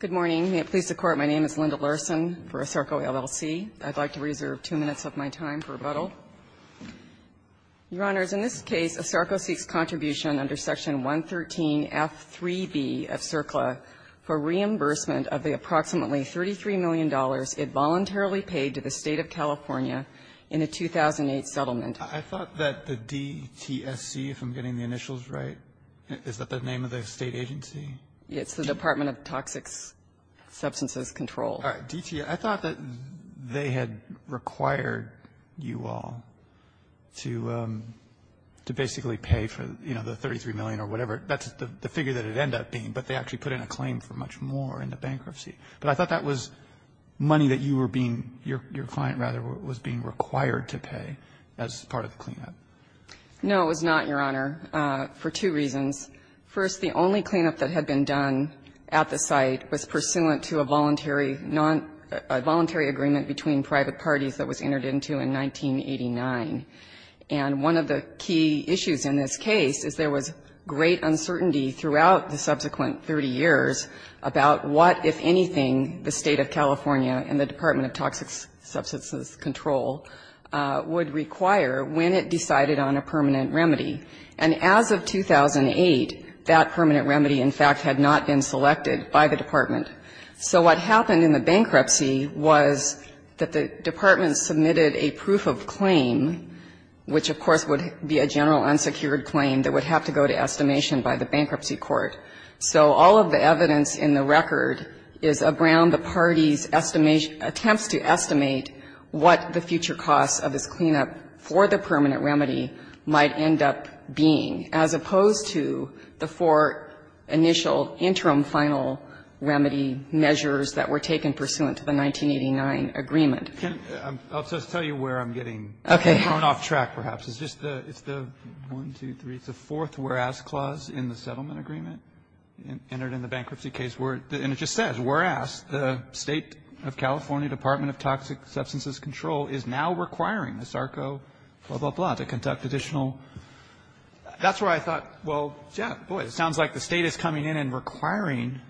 Good morning. May it please the Court, my name is Linda Larson for ASARCO, LLC. I'd like to reserve two minutes of my time for rebuttal. Your Honors, in this case, ASARCO seeks contribution under Section 113F3B of CERCLA for reimbursement of the approximately $33 million it voluntarily paid to the State of California in a 2008 settlement. I thought that the DTSC, if I'm getting the initials right, is that the name of the State agency? It's the Department of Toxic Substances Control. All right. DTSC, I thought that they had required you all to basically pay for, you know, the $33 million or whatever. That's the figure that it ended up being, but they actually put in a claim for much more in the bankruptcy. But I thought that was money that you were being, your client, rather, was being required to pay as part of the cleanup. No, it was not, Your Honor, for two reasons. First, the only cleanup that had been done at the site was pursuant to a voluntary non, a voluntary agreement between private parties that was entered into in 1989. And one of the key issues in this case is there was great uncertainty throughout the subsequent 30 years about what, if anything, the State of California and the Department of Toxic Substances Control would require when it decided on a permanent remedy. And as of 2008, that permanent remedy, in fact, had not been selected by the Department. So what happened in the bankruptcy was that the Department submitted a proof of claim, which, of course, would be a general unsecured claim that would have to go to estimation by the bankruptcy court. So all of the evidence in the record is around the parties' estimation, attempts to estimate what the future costs of this cleanup for the permanent remedy might end up being, as opposed to the four initial interim final remedy measures that were taken pursuant to the 1989 agreement. Roberts, I'll just tell you where I'm getting thrown off track, perhaps. It's just the, it's the one, two, three, it's the fourth whereas clause in the settlement agreement entered in the bankruptcy case, and it just says, whereas the State of California Department of Toxic Substances Control is now requiring the SARCO, blah, blah, blah, blah, to conduct additional. That's where I thought, well, yeah, boy, it sounds like the State is coming in and requiring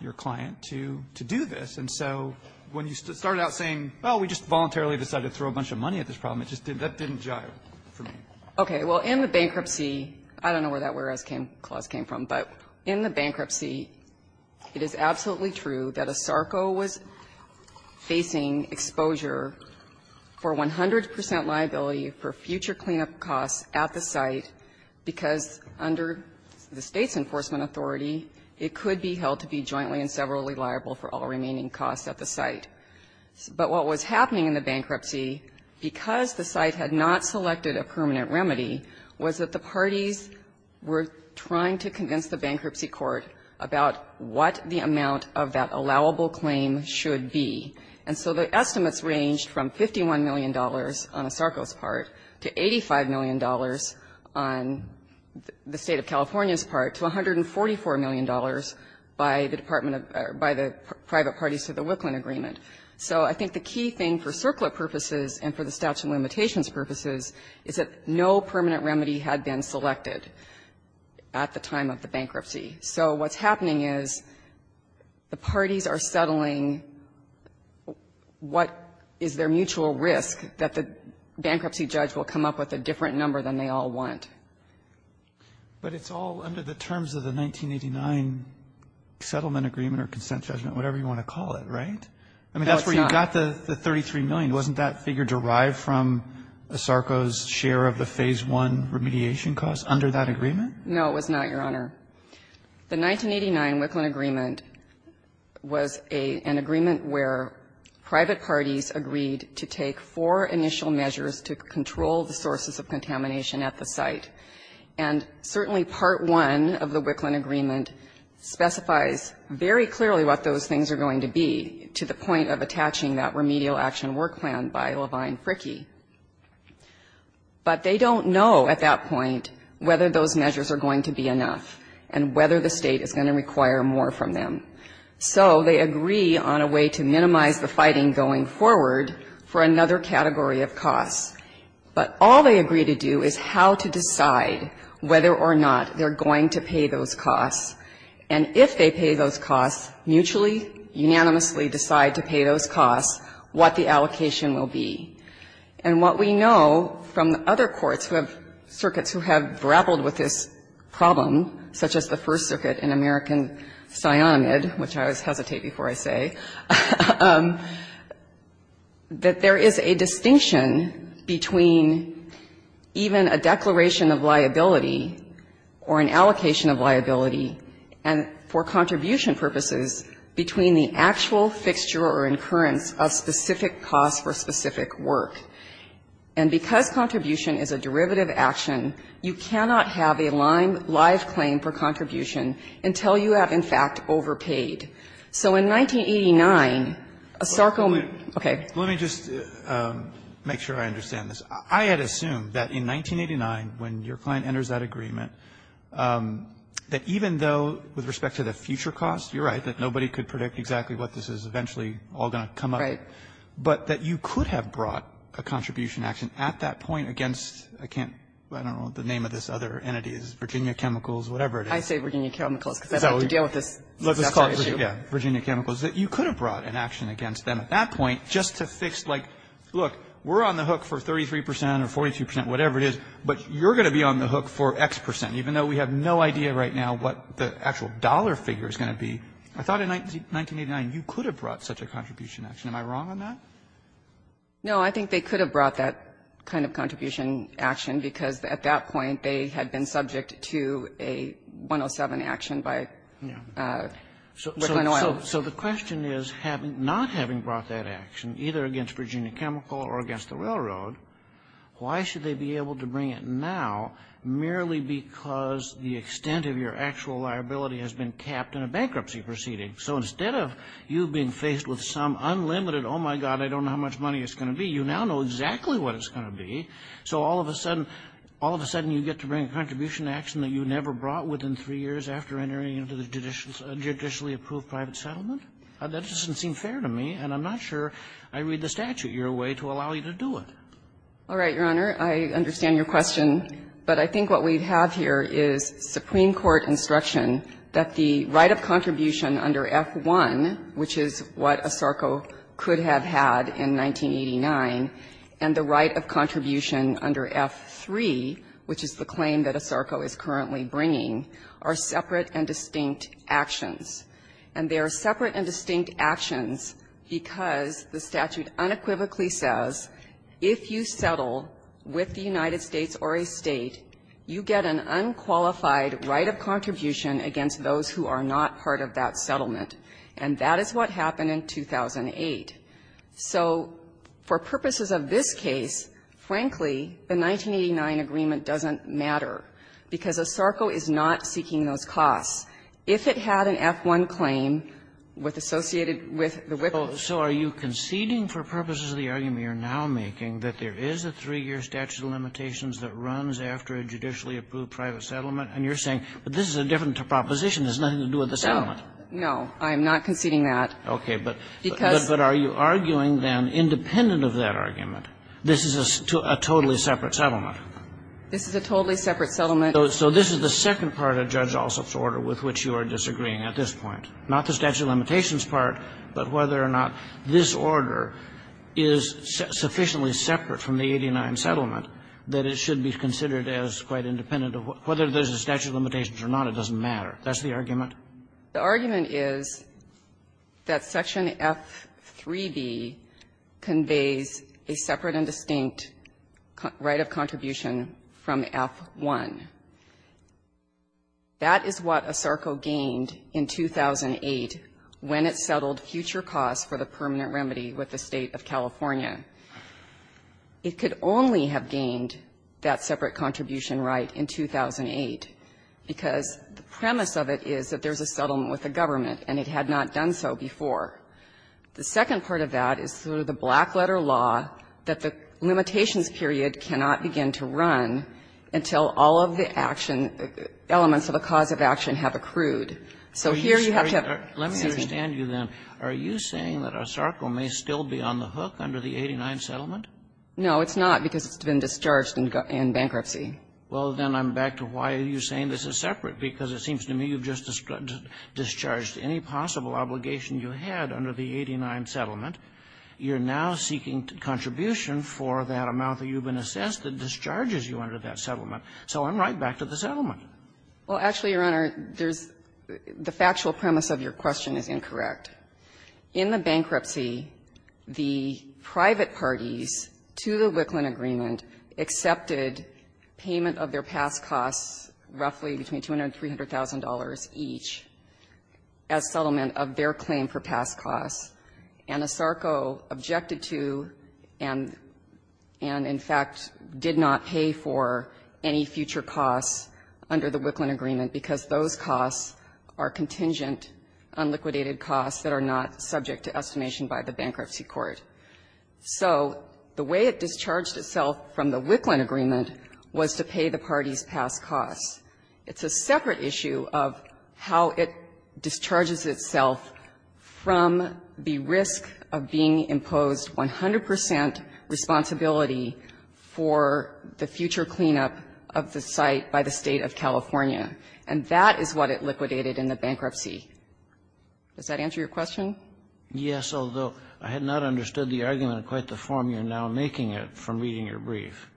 your client to do this. And so when you started out saying, well, we just voluntarily decided to throw a bunch of money at this problem, it just didn't, that didn't jive for me. Okay. Well, in the bankruptcy, I don't know where that whereas clause came from, but in the bankruptcy, it is absolutely true that a SARCO was facing exposure for 100 percent liability for future cleanup costs at the site, because under the State's enforcement authority, it could be held to be jointly and severally liable for all remaining costs at the site. But what was happening in the bankruptcy, because the site had not selected a permanent remedy, was that the parties were trying to convince the bankruptcy court about what the amount of that allowable claim should be. And so the estimates ranged from $51 million on a SARCO's part to $85 million on the State of California's part to $144 million by the Department of the or by the private parties to the Wicklund agreement. So I think the key thing for CERCLA purposes and for the statute of limitations purposes is that no permanent remedy had been selected at the time of the bankruptcy. So what's happening is the parties are settling what is their mutual risk that the bankruptcy judge will come up with a different number than they all want. But it's all under the terms of the 1989 settlement agreement or consent judgment, whatever you want to call it, right? No, it's not. I mean, that's where you got the $33 million. Wasn't that figure derived from a SARCO's share of the Phase I remediation costs under that agreement? No, it was not, Your Honor. The 1989 Wicklund agreement was an agreement where private parties agreed to take four initial measures to control the sources of contamination at the site. And certainly Part I of the Wicklund agreement specifies very clearly what those things are going to be to the point of attaching that remedial action work plan by Levine-Fricke. But they don't know at that point whether those measures are going to be enough. And whether the State is going to require more from them. So they agree on a way to minimize the fighting going forward for another category of costs. But all they agree to do is how to decide whether or not they're going to pay those costs. And if they pay those costs, mutually, unanimously decide to pay those costs, what the allocation will be. And what we know from the other courts who have circuits who have grappled with this problem, such as the First Circuit in American Psyonimid, which I always hesitate before I say, that there is a distinction between even a declaration of liability or an allocation of liability and, for contribution purposes, between the actual fixture or incurrence of specific costs for specific work. And because contribution is a derivative action, you cannot have a lime-liquid live claim for contribution until you have, in fact, overpaid. So in 1989, a Sarko ---- Roberts, let me just make sure I understand this. I had assumed that in 1989, when your client enters that agreement, that even though with respect to the future costs, you're right, that nobody could predict exactly what this is eventually all going to come up. But that you could have brought a contribution action at that point against, I can't remember the name of this other entity, Virginia Chemicals, whatever it is. I say Virginia Chemicals because I've had to deal with this exact same issue. Yeah, Virginia Chemicals. You could have brought an action against them at that point just to fix, like, look, we're on the hook for 33 percent or 42 percent, whatever it is, but you're going to be on the hook for X percent, even though we have no idea right now what the actual dollar figure is going to be. I thought in 1989 you could have brought such a contribution action. Am I wrong on that? No, I think they could have brought that kind of contribution action because at that point they had been subject to a 107 action by Brooklyn Oil. So the question is, not having brought that action, either against Virginia Chemical or against the railroad, why should they be able to bring it now merely because the extent of your actual liability has been capped in a bankruptcy proceeding? So instead of you being faced with some unlimited, oh, my God, I don't know how much money it's going to be, you now know exactly what it's going to be. So all of a sudden, all of a sudden you get to bring a contribution action that you never brought within three years after entering into the judicially approved private settlement? That doesn't seem fair to me, and I'm not sure I read the statute your way to allow you to do it. All right, Your Honor, I understand your question, but I think what we have here is Supreme Court instruction that the right of contribution under F-1, which is what ASARCO could have had in 1989, and the right of contribution under F-3, which is the claim that ASARCO is currently bringing, are separate and distinct actions. And they are separate and distinct actions because the statute unequivocally says if you settle with the United States or a State, you get an unqualified right of contribution against those who are not part of that settlement. And that is what happened in 2008. So for purposes of this case, frankly, the 1989 agreement doesn't matter because ASARCO is not seeking those costs. If it had an F-1 claim with associated with the WIPO. Kagan, so are you conceding for purposes of the argument you're now making that there is a three-year statute of limitations that runs after a judicially approved private settlement? And you're saying, but this is a different proposition. It has nothing to do with the settlement. No, I'm not conceding that. Okay. But are you arguing then, independent of that argument, this is a totally separate settlement? This is a totally separate settlement. So this is the second part of Judge Alsop's order with which you are disagreeing at this point, not the statute of limitations part, but whether or not this order is sufficiently separate from the 89 settlement that it should be considered as quite independent of whether there's a statute of limitations or not, it doesn't matter. That's the argument? The argument is that Section F-3B conveys a separate and distinct right of contribution from F-1. That is what ASARCO gained in 2008 when it settled future costs for the permanent remedy with the State of California. It could only have gained that separate contribution right in 2008 because the premise of it is that there's a settlement with the government, and it had not done so before. The second part of that is through the black-letter law that the limitations period cannot begin to run until all of the action, elements of the cause of action have accrued. So here you have to have a decision. Kagan, if I understand you then, are you saying that ASARCO may still be on the hook under the 89 settlement? No, it's not, because it's been discharged in bankruptcy. Well, then I'm back to why are you saying this is separate, because it seems to me you've just discharged any possible obligation you had under the 89 settlement. You're now seeking contribution for that amount that you've been assessed that discharges you under that settlement. So I'm right back to the settlement. Well, actually, Your Honor, there's the factual premise of your question is incorrect. In the bankruptcy, the private parties to the Wickland agreement accepted payment of their past costs, roughly between $200,000 and $300,000 each, as settlement of their claim for past costs. ASARCO objected to and, in fact, did not pay for any future costs under the Wickland agreement, because those costs are contingent, unliquidated costs that are not subject to estimation by the bankruptcy court. So the way it discharged itself from the Wickland agreement was to pay the parties' past costs. It's a separate issue of how it discharges itself from the risk of being imposed 100 percent responsibility for the future cleanup of the site by the State of California. And that is what it liquidated in the bankruptcy. Does that answer your question? Yes, although I had not understood the argument in quite the form you're now making it from reading your brief.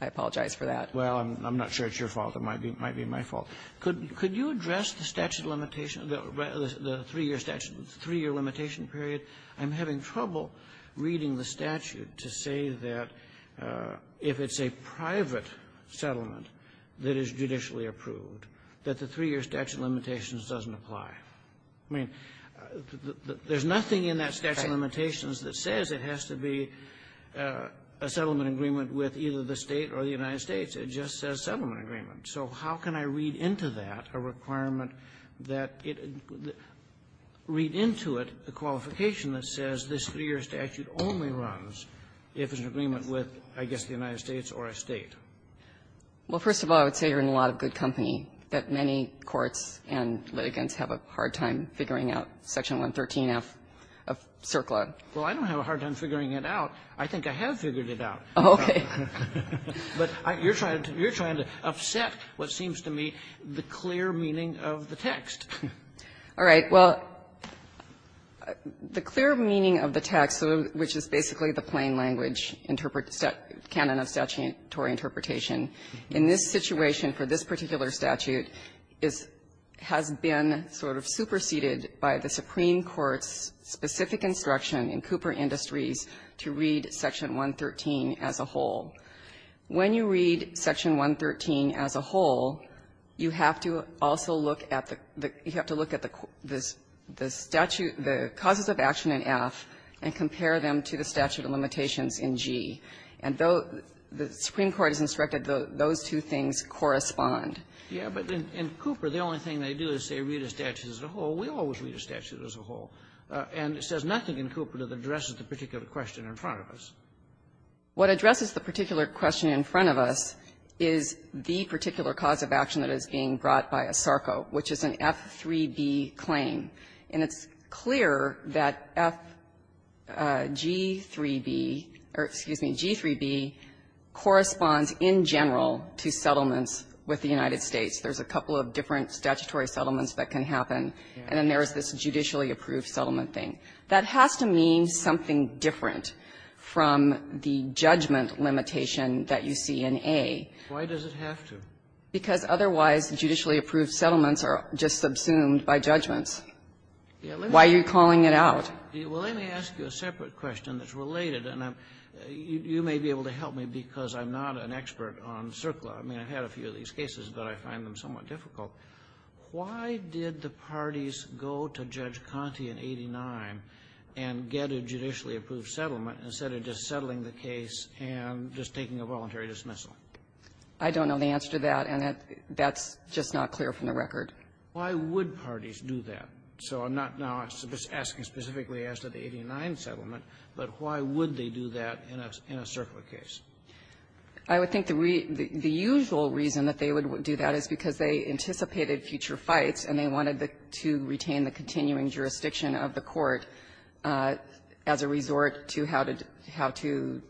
I apologize for that. Well, I'm not sure it's your fault. It might be my fault. Could you address the statute limitation, the three-year statute, the three-year limitation period? I'm having trouble reading the statute to say that if it's a private settlement that is judicially approved, that the three-year statute limitation doesn't apply. I mean, there's nothing in that statute of limitations that says it has to be a settlement agreement with either the State or the United States. It just says settlement agreement. So how can I read into that a requirement that it read into it a qualification that says this three-year statute only runs if it's an agreement with, I guess, the United States or a State? Well, first of all, I would say you're in a lot of good company, that many courts and litigants have a hard time figuring out Section 113F of CERCLA. Well, I don't have a hard time figuring it out. I think I have figured it out. Oh, okay. But you're trying to upset what seems to me the clear meaning of the text. All right. Well, the clear meaning of the text, which is basically the plain language interpret or canon of statutory interpretation, in this situation for this particular statute, is has been sort of superseded by the Supreme Court's specific instruction in Cooper Industries to read Section 113 as a whole. When you read Section 113 as a whole, you have to also look at the the you have to look at the the statute the causes of action in F and compare them to the statute of limitations in G. And though the Supreme Court has instructed those two things correspond. Yeah, but in Cooper, the only thing they do is say read a statute as a whole. We always read a statute as a whole. And it says nothing in Cooper that addresses the particular question in front of us. What addresses the particular question in front of us is the particular cause of action that is being brought by ASARCO, which is an F3B claim, and it's clear that FG3B or, excuse me, G3B corresponds in general to settlements with the United States. There's a couple of different statutory settlements that can happen, and then there is this judicially approved settlement thing. That has to mean something different from the judgment limitation that you see in A. Why does it have to? Because otherwise, judicially approved settlements are just subsumed by judgments. Why are you calling it out? Well, let me ask you a separate question that's related, and you may be able to help me because I'm not an expert on CERCLA. I mean, I've had a few of these cases, but I find them somewhat difficult. Why did the parties go to Judge Conte in 89 and get a judicially approved settlement instead of just settling the case and just taking a voluntary dismissal? I don't know the answer to that, and that's just not clear from the record. Why would parties do that? So I'm not now asking specifically as to the 89 settlement, but why would they do that in a CERCLA case? I would think the usual reason that they would do that is because they anticipated future fights, and they wanted to retain the continuing jurisdiction of the Court as a resort to how to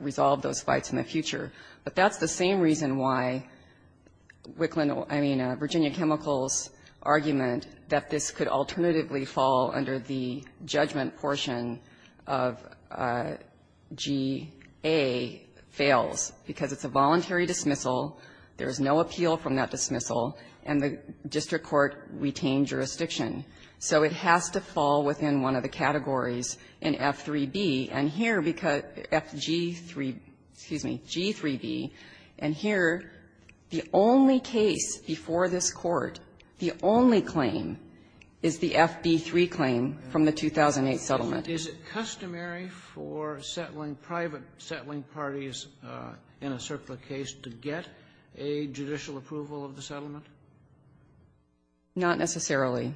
resolve those fights in the future. But that's the same reason why Wicklund or, I mean, Virginia Chemicals' argument that this could alternatively fall under the judgment portion of G.A. fails, because it's a voluntary dismissal, there is no appeal from that dismissal, and the district court retained jurisdiction. So it has to fall within one of the categories in F.3.B. And here, because F.G.3. Excuse me, G.3.B., and here, the only case before this Court, the only claim is the F.B.3 claim from the 2008 settlement. Is it customary for settling private settling parties in a CERCLA case to get a judicial approval of the settlement? Not necessarily.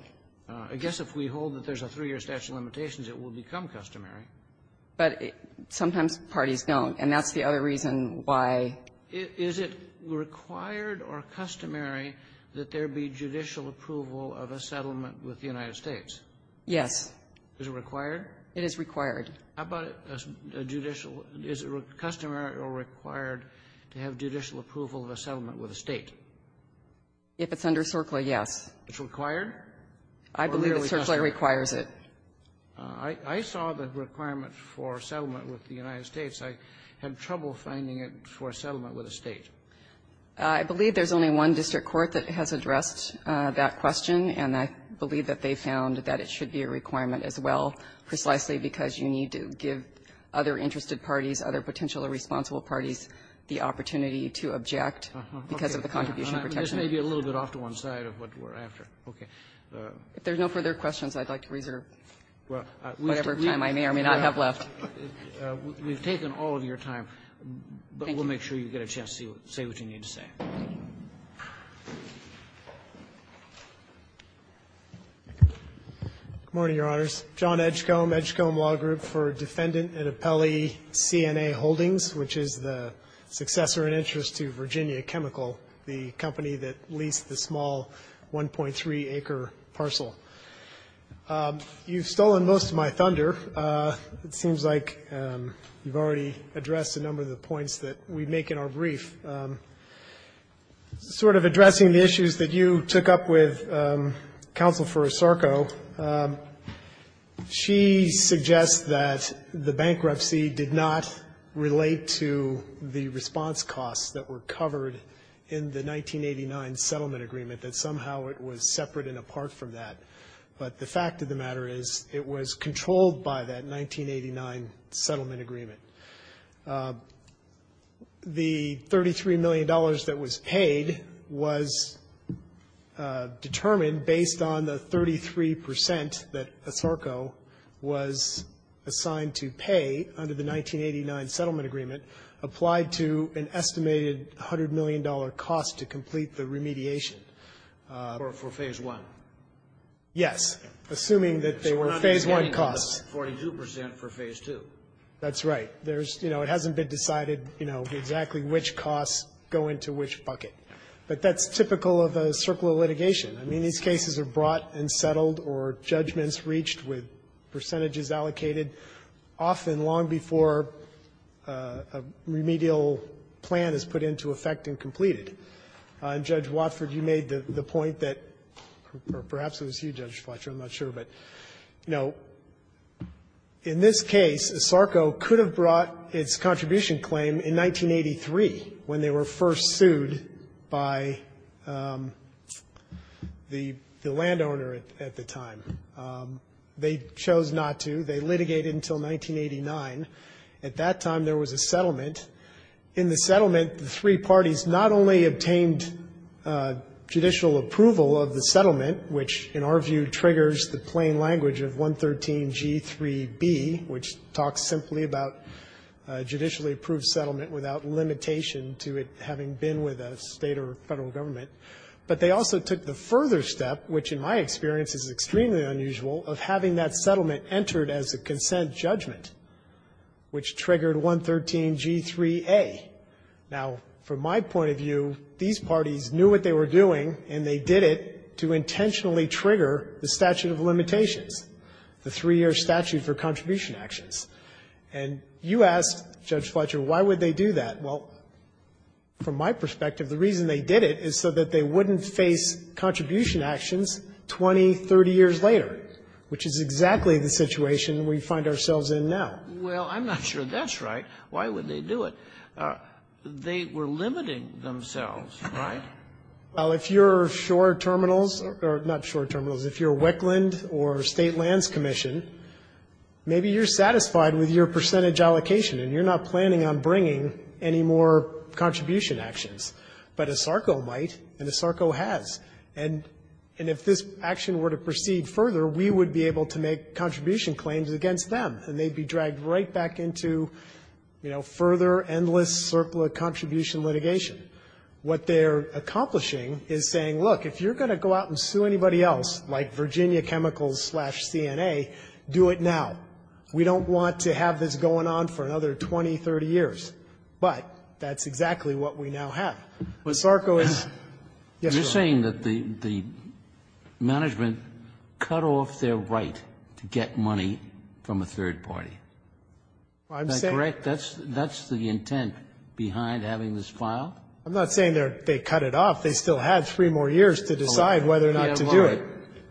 I guess if we hold that there's a three-year statute of limitations, it will become customary. But sometimes parties don't, and that's the other reason why we don't. Is it required or customary that there be judicial approval of a settlement with the United States? Yes. Is it required? It is required. How about a judicial or is it customary or required to have judicial approval of a settlement with a State? If it's under CERCLA, yes. It's required? I believe that CERCLA requires it. I saw the requirement for a settlement with the United States. I had trouble finding it for a settlement with a State. I believe there's only one district court that has addressed that question, and I believe that they found that it should be a requirement as well, precisely because you need to give other interested parties, other potentially responsible parties, the opportunity to object because of the contribution protection. This may be a little bit off to one side of what we're after. Okay. If there's no further questions, I'd like to reserve whatever time I may or may not have left. We've taken all of your time, but we'll make sure you get a chance to say what you need to say. Good morning, Your Honors. John Edgecombe, Edgecombe Law Group, for Defendant and Appellee CNA Holdings, which is the successor in interest to Virginia Chemical, the company that leased the small 1.3-acre parcel. You've stolen most of my thunder. It seems like you've already addressed a number of the points that we make in our brief. Sort of addressing the issues that you took up with Counsel for Osarko, she suggests that the bankruptcy did not relate to the response costs that were covered in the settlement agreement, that somehow it was separate and apart from that. But the fact of the matter is it was controlled by that 1989 settlement agreement. The $33 million that was paid was determined based on the 33 percent that Osarko was assigned to pay under the 1989 settlement agreement applied to an estimated $100 million cost to complete the remediation. For Phase I? Yes, assuming that they were Phase I costs. So we're not getting the 42 percent for Phase II? That's right. There's, you know, it hasn't been decided, you know, exactly which costs go into which bucket. But that's typical of a circle of litigation. I mean, these cases are brought and settled or judgments reached with percentages allocated, often long before a remedial plan is put into effect and completed. And, Judge Watford, you made the point that or perhaps it was you, Judge Fletcher. I'm not sure. But, you know, in this case, Osarko could have brought its contribution claim in 1983 when they were first sued by the landowner at the time. They chose not to. They litigated until 1989. At that time, there was a settlement. In the settlement, the three parties not only obtained judicial approval of the settlement, which in our view triggers the plain language of 113G3B, which talks simply about a judicially approved settlement without limitation to it having been with a State or Federal government. But they also took the further step, which in my experience is extremely unusual, of having that settlement entered as a consent judgment, which triggered 113G3A. Now, from my point of view, these parties knew what they were doing, and they did it to intentionally trigger the statute of limitations, the three-year statute for contribution actions. And you asked, Judge Fletcher, why would they do that? Well, from my perspective, the reason they did it is so that they wouldn't face contribution actions 20, 30 years later, which is exactly the situation we find ourselves in now. Well, I'm not sure that's right. Why would they do it? They were limiting themselves, right? Well, if you're Shore Terminals or not Shore Terminals, if you're Wickland or State Lands Commission, maybe you're satisfied with your percentage allocation, and you're not planning on bringing any more contribution actions. But ISARCO might, and ISARCO has. And if this action were to proceed further, we would be able to make contribution claims against them, and they'd be dragged right back into, you know, further, endless, circular contribution litigation. What they're accomplishing is saying, look, if you're going to go out and sue anybody else, like Virginia Chemicals slash CNA, do it now. We don't want to have this going on for another 20, 30 years. But that's exactly what we now have. ISARCO is yes, sir. You're saying that the management cut off their right to get money from a third party. I'm saying that's the intent behind having this file. I'm not saying they cut it off. They still have three more years to decide whether or not to do it.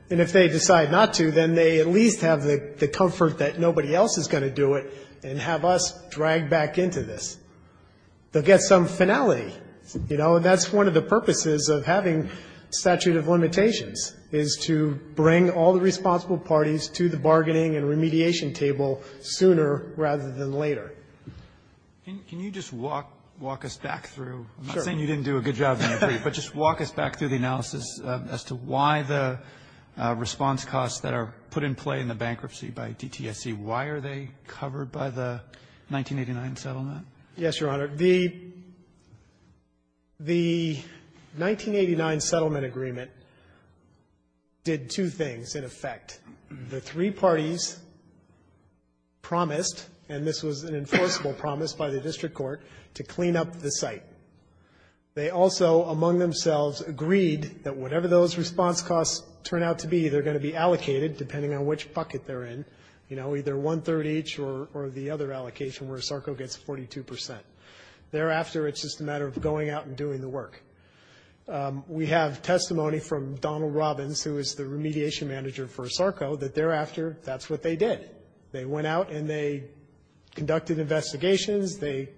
And if they decide not to, then they at least have the comfort that nobody else is going to do it and have us dragged back into this. They'll get some finality, you know, and that's one of the purposes of having statutory limitations, is to bring all the responsible parties to the bargaining and remediation table sooner rather than later. Can you just walk us back through, I'm not saying you didn't do a good job, but just walk us back through the analysis as to why the response costs that are put in play in the bankruptcy by DTSC, why are they covered by the 1989 settlement? Yes, Your Honor. The 1989 settlement agreement did two things, in effect. The three parties promised, and this was an enforceable promise by the district court, to clean up the site. They also, among themselves, agreed that whatever those response costs turn out to be, they're going to be allocated, depending on which bucket they're in, you know, either one-third each or the other allocation, where ASARCO gets 42 percent. Thereafter, it's just a matter of going out and doing the work. We have testimony from Donald Robbins, who is the remediation manager for ASARCO, that thereafter, that's what they did. They went out and they conducted investigations, they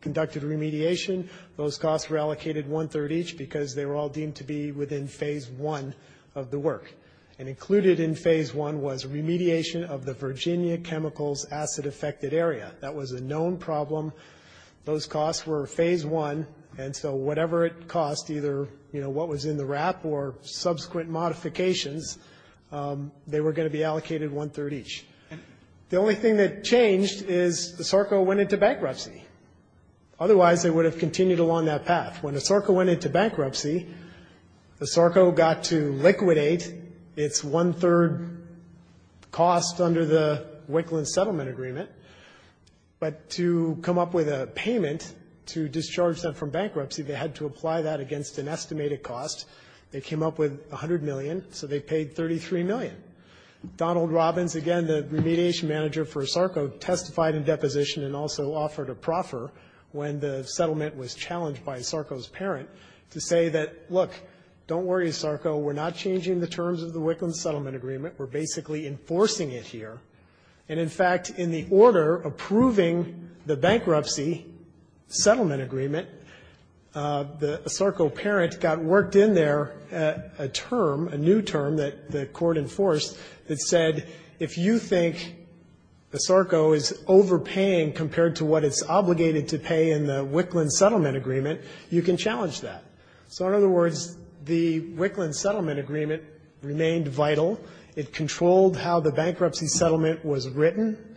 conducted remediation. Those costs were allocated one-third each because they were all deemed to be within phase one of the work. And included in phase one was remediation of the Virginia Chemicals acid-affected area. That was a known problem. Those costs were phase one, and so whatever it cost, either, you know, what was in the wrap or subsequent modifications, they were going to be allocated one-third each. The only thing that changed is ASARCO went into bankruptcy. Otherwise, they would have continued along that path. When ASARCO went into bankruptcy, ASARCO got to liquidate its one-third cost under the Wicklands Settlement Agreement, but to come up with a payment to discharge them from bankruptcy, they had to apply that against an estimated cost. They came up with $100 million, so they paid $33 million. Donald Robbins, again, the remediation manager for ASARCO, testified in deposition and also offered a proffer when the settlement was challenged by ASARCO's parent to say that, look, don't worry, ASARCO, we're not changing the terms of the Wicklands Settlement Agreement, we're basically enforcing it here. And, in fact, in the order approving the bankruptcy settlement agreement, the ASARCO parent got worked in there a term, a new term, that the Court enforced that said, if you think ASARCO is overpaying compared to what it's obligated to pay in the Wicklands Settlement Agreement, you can challenge that. So, in other words, the Wicklands Settlement Agreement remained vital. It controlled how the bankruptcy settlement was written.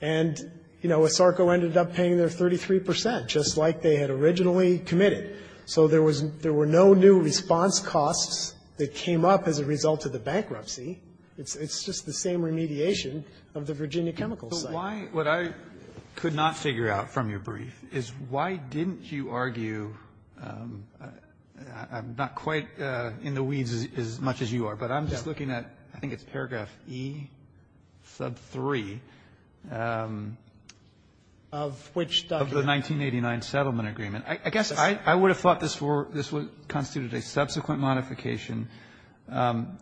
And, you know, ASARCO ended up paying their 33 percent, just like they had originally committed. So there was no new response costs that came up as a result of the bankruptcy. It's just the same remediation of the Virginia Chemicals site. Kennedy. But why what I could not figure out from your brief is why didn't you argue, I'm not quite in the weeds as much as you are, but I'm just looking at, I think it's paragraph E sub 3 of which document? Of the 1989 settlement agreement. I guess I would have thought this were this would constitute a subsequent modification. I'm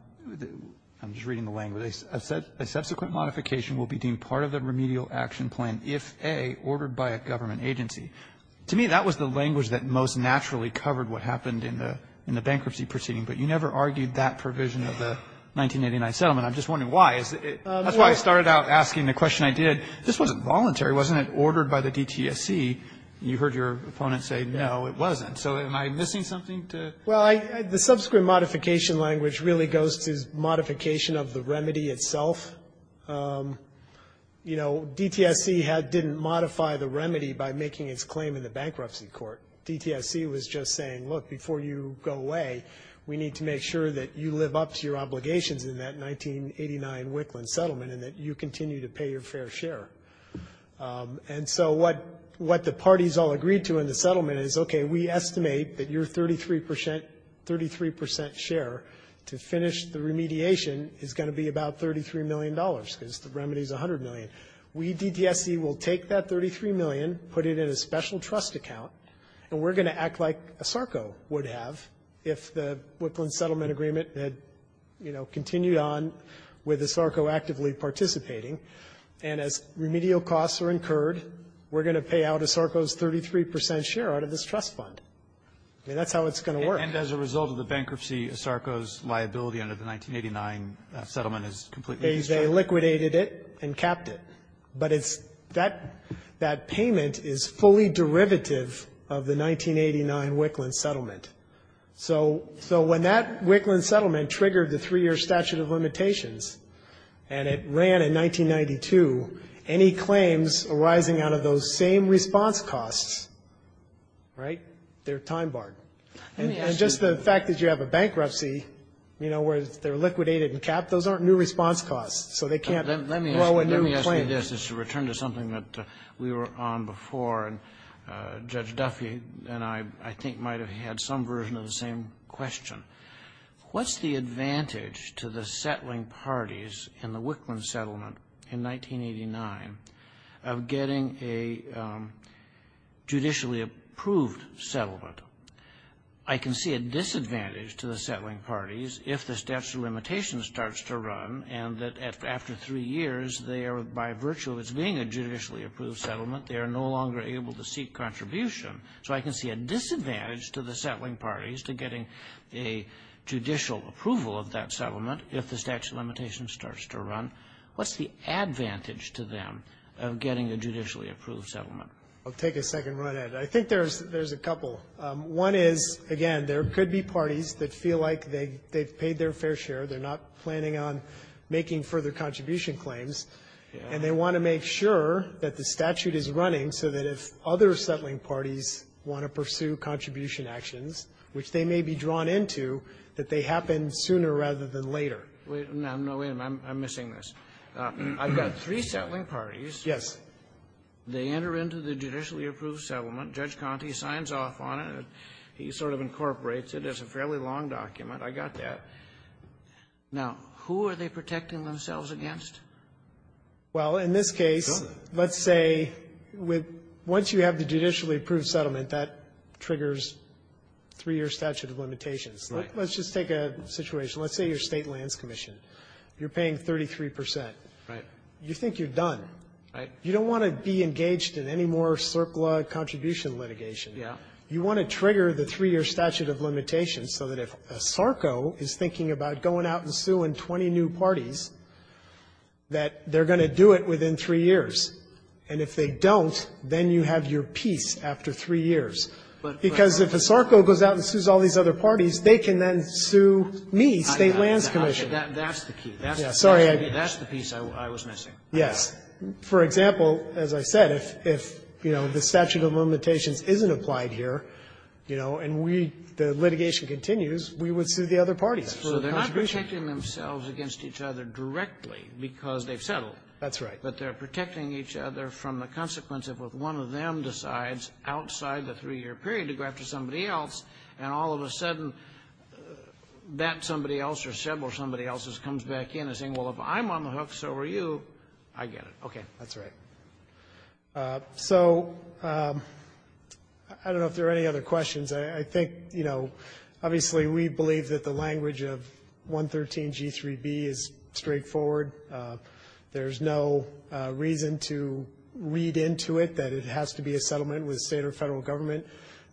just reading the language. It said, A subsequent modification will be deemed part of the remedial action plan if, A, ordered by a government agency. To me, that was the language that most naturally covered what happened in the bankruptcy proceeding. But you never argued that provision of the 1989 settlement. I'm just wondering why. That's why I started out asking the question I did. This wasn't voluntary. Wasn't it ordered by the DTSC? You heard your opponent say, no, it wasn't. So am I missing something? Well, the subsequent modification language really goes to modification of the remedy itself. You know, DTSC had didn't modify the remedy by making its claim in the bankruptcy court. DTSC was just saying, look, before you go away, we need to make sure that you live up to your obligations in that 1989 Wicklund settlement and that you continue to pay your fair share. And so what what the parties all agreed to in the settlement is, OK, we estimate that your 33 percent, 33 percent share to finish the remediation is going to be about $33 million because the remedy is $100 million. We, DTSC, will take that $33 million, put it in a special trust account, and we're going to act like ASARCO would have if the Wicklund settlement agreement had, you know, continued on with ASARCO actively participating. And as remedial costs are incurred, we're going to pay out ASARCO's 33 percent share out of this trust fund. I mean, that's how it's going to work. And as a result of the bankruptcy, ASARCO's liability under the 1989 settlement is completely destroyed. They liquidated it and capped it. But it's that that payment is fully derivative of the 1989 Wicklund settlement. So so when that Wicklund settlement triggered the three-year statute of limitations and it ran in 1992, any claims arising out of those same response costs, right, they're time-barred. And just the fact that you have a bankruptcy, you know, where they're liquidated and capped, those aren't new response costs, so they can't grow a new claim. Let me ask you this as a return to something that we were on before, and Judge Duffy and I, I think, might have had some version of the same question. What's the advantage to the settling parties in the Wicklund settlement in 1989 of getting a judicially approved settlement? I can see a disadvantage to the settling parties if the statute of limitations starts to run and that after three years, they are, by virtue of its being a judicially approved settlement, they are no longer able to seek contribution. So I can see a disadvantage to the settling parties to getting a judicial approval What's the advantage to them of getting a judicially approved settlement? I'll take a second run at it. I think there's a couple. One is, again, there could be parties that feel like they've paid their fair share. They're not planning on making further contribution claims. And they want to make sure that the statute is running so that if other settling parties want to pursue contribution actions, which they may be drawn into, that they happen sooner rather than later. Wait. No, wait a minute. I'm missing this. I've got three settling parties. Yes. They enter into the judicially approved settlement. Judge Conte signs off on it. He sort of incorporates it. It's a fairly long document. I got that. Now, who are they protecting themselves against? Well, in this case, let's say with once you have the judicially approved settlement, that triggers three-year statute of limitations. Right. Let's just take a situation. Let's say you're State Lands Commission. You're paying 33 percent. Right. You think you're done. Right. You don't want to be engaged in any more surplus contribution litigation. Yeah. You want to trigger the three-year statute of limitations so that if a SARCO is thinking about going out and suing 20 new parties, that they're going to do it within three years. And if they don't, then you have your peace after three years. Because if a SARCO goes out and sues all these other parties, they can then sue me. State Lands Commission. That's the key. Sorry. That's the piece I was missing. Yes. For example, as I said, if, you know, the statute of limitations isn't applied here, you know, and we the litigation continues, we would sue the other parties. So they're not protecting themselves against each other directly because they've settled. That's right. But they're protecting each other from the consequence if one of them decides outside the three-year period to go after somebody else, and all of a sudden that somebody else or several somebody else comes back in and says, well, if I'm on the hook, so are you, I get it. Okay. That's right. So I don't know if there are any other questions. I think, you know, obviously, we believe that the language of 113G3B is straightforward. There's no reason to read into it that it has to be a settlement with State or Federal Government.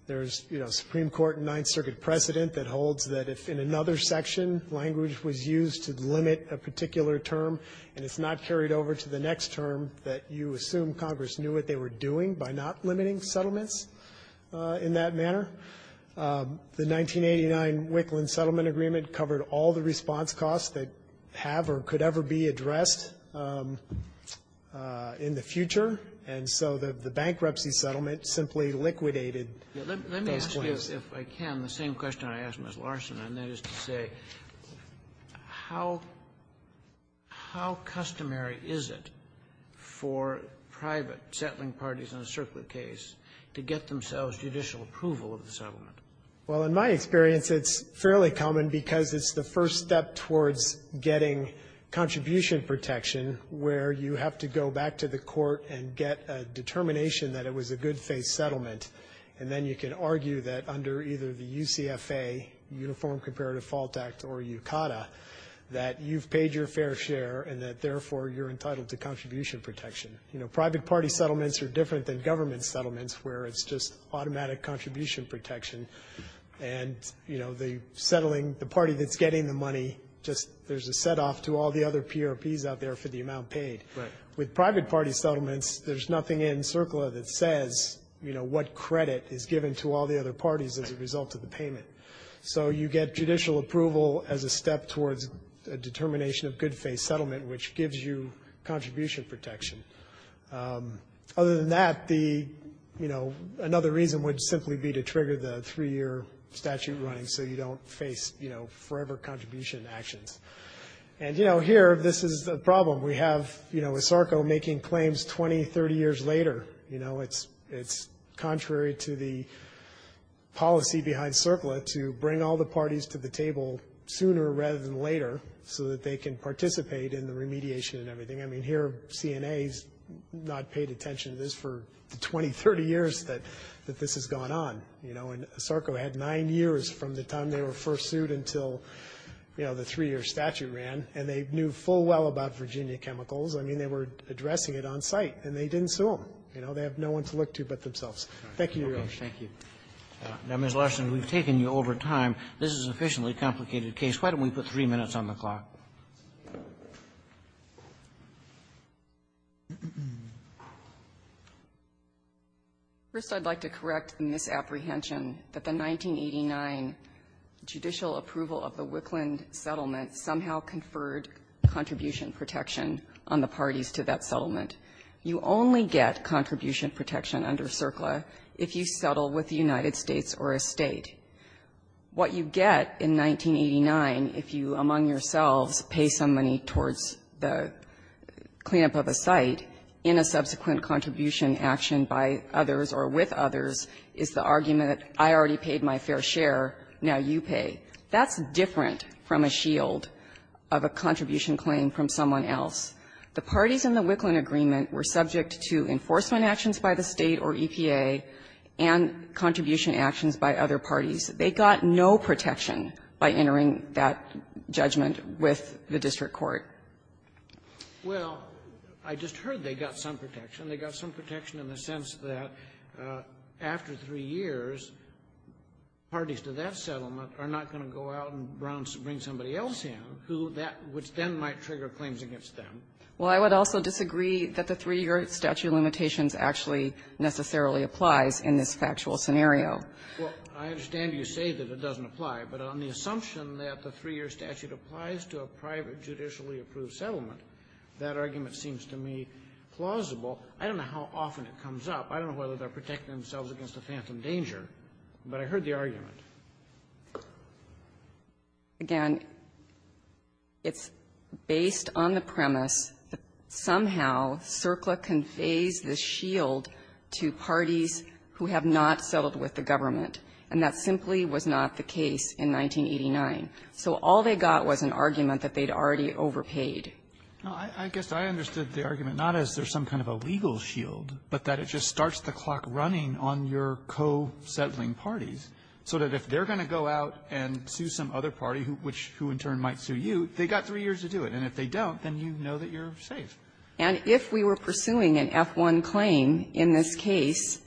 There's, you know, Supreme Court and Ninth Circuit precedent that holds that if in another section language was used to limit a particular term and it's not carried over to the next term that you assume Congress knew what they were doing by not limiting settlements in that manner. The 1989 Wickland Settlement Agreement covered all the response costs that have or could ever be addressed in the future, and so the bankruptcy settlement simply liquidated those claims. Robertson, let me ask you, if I can, the same question I asked Ms. Larson, and that is to say, how customary is it for private settling parties in a circular case to get themselves judicial approval of the settlement? Well, in my experience, it's fairly common because it's the first step towards getting contribution protection where you have to go back to the court and get a determination that it was a good-faith settlement, and then you can argue that under either the UCFA, Uniform Comparative Fault Act, or UCADA, that you've paid your fair share and that, therefore, you're entitled to contribution protection. You know, private party settlements are different than government settlements where it's just automatic contribution protection, and, you know, the settling, the party that's getting the money, just there's a setoff to all the other PRPs out there for the amount paid. Right. With private party settlements, there's nothing in CERCLA that says, you know, what credit is given to all the other parties as a result of the payment. So you get judicial approval as a step towards a determination of good-faith settlement, which gives you contribution protection. Other than that, the, you know, another reason would simply be to trigger the three-year statute running so you don't face, you know, forever contribution actions. And, you know, here, this is the problem. We have, you know, ISARCO making claims 20, 30 years later. You know, it's contrary to the policy behind CERCLA to bring all the parties to the table sooner rather than later so that they can participate in the remediation and everything. I mean, here, CNA has not paid attention to this for the 20, 30 years that this has gone on. You know, and ISARCO had nine years from the time they were first sued until, you know, the three-year statute ran. And they knew full well about Virginia Chemicals. I mean, they were addressing it on site, and they didn't sue them. You know, they have no one to look to but themselves. Thank you, Your Honor. Roberts. Thank you. Now, Ms. Larson, we've taken you over time. This is an efficiently complicated case. Why don't we put three minutes on the clock? First, I'd like to correct the misapprehension that the 1989 judicial approval of the Wickland settlement somehow conferred contribution protection on the parties to that settlement. You only get contribution protection under CERCLA if you settle with the United States or a State. What you get in 1989 if you, among yourselves, pay some money towards the clean-up of a site in a subsequent contribution action by others or with others is the argument I already paid my fair share, now you pay. That's different from a shield of a contribution claim from someone else. The parties in the Wickland agreement were subject to enforcement actions by the State or EPA and contribution actions by other parties. They got no protection by entering that judgment with the district court. Well, I just heard they got some protection. They got some protection in the sense that after three years, parties to that settlement are not going to go out and bring somebody else in, who that then might trigger claims against them. Well, I would also disagree that the three-year statute of limitations actually necessarily applies in this factual scenario. Well, I understand you say that it doesn't apply, but on the assumption that the three-year statute applies to a private judicially approved settlement, that argument seems to me plausible. I don't know how often it comes up. I don't know whether they're protecting themselves against a phantom danger, but I heard the argument. Again, it's based on the premise that somehow CERCLA conveys the shield to parties who have not settled with the government, and that simply was not the case in 1989. So all they got was an argument that they'd already overpaid. No, I guess I understood the argument not as there's some kind of a legal shield, but that it just starts the clock running on your co-settling parties, so that if they're going to go out and sue some other party, which in turn might sue you, they've got three years to do it. And if they don't, then you know that you're safe. And if we were pursuing an F-1 claim in this case,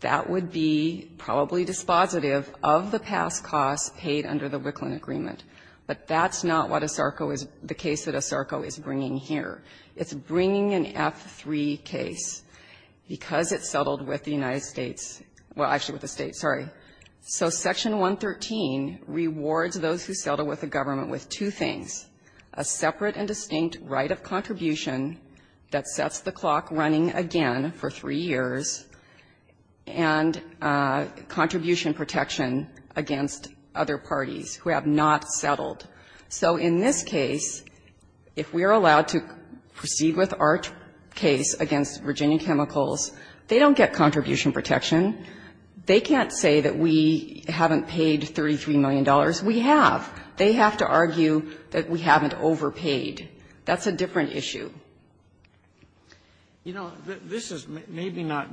that would be probably dispositive of the past costs paid under the Wicklund agreement. But that's not what ASARCO is the case that ASARCO is bringing here. It's bringing an F-3 case because it settled with the United States – well, actually with the States, sorry. So Section 113 rewards those who settle with the government with two things, a separate and distinct right of contribution that sets the clock running again for three years, and contribution protection against other parties who have not settled. So in this case, if we are allowed to proceed with our case against Virginia Chemicals, they don't get contribution protection. They can't say that we haven't paid $33 million. We have. They have to argue that we haven't overpaid. That's a different issue. Kennedy. You know, this is maybe not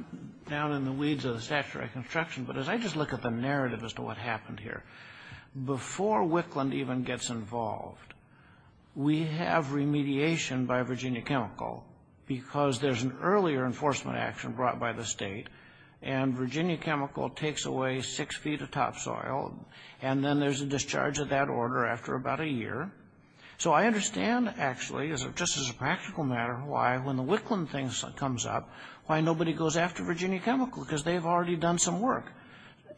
down in the weeds of the statutory construction, but as I just look at the narrative as to what happened here, before Wicklund even gets involved, we have remediation by Virginia Chemical because there's an earlier enforcement action brought by the state, and Virginia Chemical takes away six feet of topsoil, and then there's a discharge of that order after about a year. So I understand, actually, just as a practical matter, why when the Wicklund thing comes up, why nobody goes after Virginia Chemical, because they've already done some work.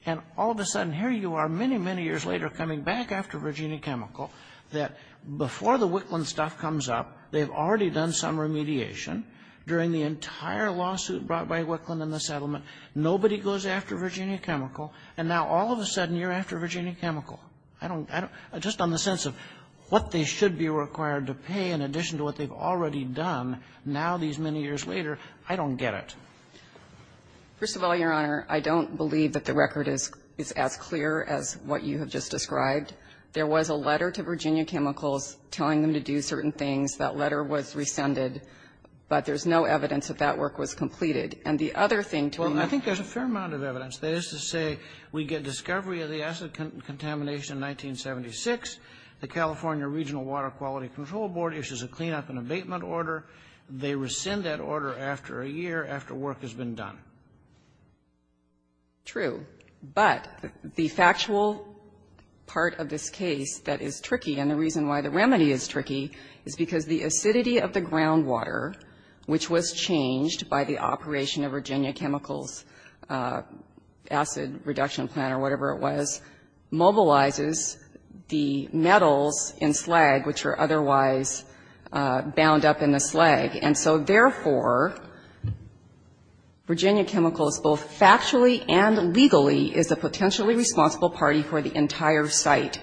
And all of a sudden, here you are, many, many years later, coming back after Virginia Chemical, that before the Wicklund stuff comes up, they've already done some remediation during the entire lawsuit brought by Wicklund in the settlement, nobody goes after Virginia Chemical, and now all of a sudden you're after Virginia Chemical. I don't get it. Just on the sense of what they should be required to pay in addition to what they've already done, now these many years later, I don't get it. First of all, Your Honor, I don't believe that the record is as clear as what you have just described. There was a letter to Virginia Chemicals telling them to do certain things. That letter was rescinded, but there's no evidence that that work was completed. And the other thing to be known to you is that there's a fair amount of evidence. That is to say, we get discovery of the acid contamination in 1976, the California Regional Water Quality Control Board issues a cleanup and abatement order, they rescind that order after a year after work has been done. True, but the factual part of this case that is tricky and the reason why the remedy is tricky is because the acidity of the groundwater, which was changed by the operation of Virginia Chemicals' acid reduction plant or whatever it was, mobilizes the metals in slag, which are otherwise bound up in the slag. Therefore, Virginia Chemicals, both factually and legally, is a potentially responsible party for the entire site.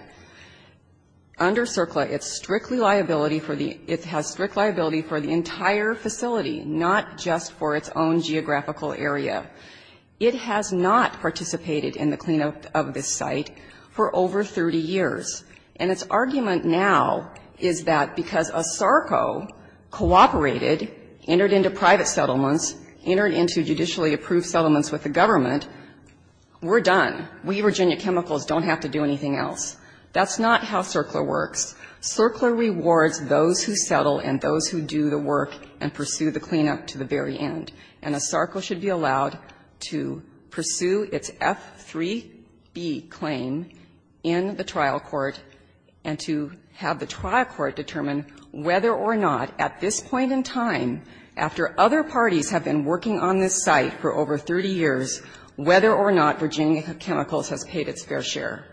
Under CERCLA, it's strictly liability for the, it has strict liability for the entire facility, not just for its own geographical area. It has not participated in the cleanup of this site for over 30 years. And its argument now is that because ASARCO cooperated, entered into private settlements, entered into judicially approved settlements with the government, we're done. We, Virginia Chemicals, don't have to do anything else. That's not how CERCLA works. CERCLA rewards those who settle and those who do the work and pursue the cleanup to the very end. And ASARCO should be allowed to pursue its F-3B claim in the trial court, in the trial court, and to have the trial court determine whether or not, at this point in time, after other parties have been working on this site for over 30 years, whether or not Virginia Chemicals has paid its fair share.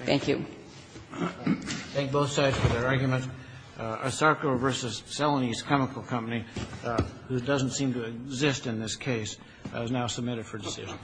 Thank you. Roberts. Thank both sides for their arguments. ASARCO v. Celanese Chemical Company, which doesn't seem to exist in this case, is now submitted for decision.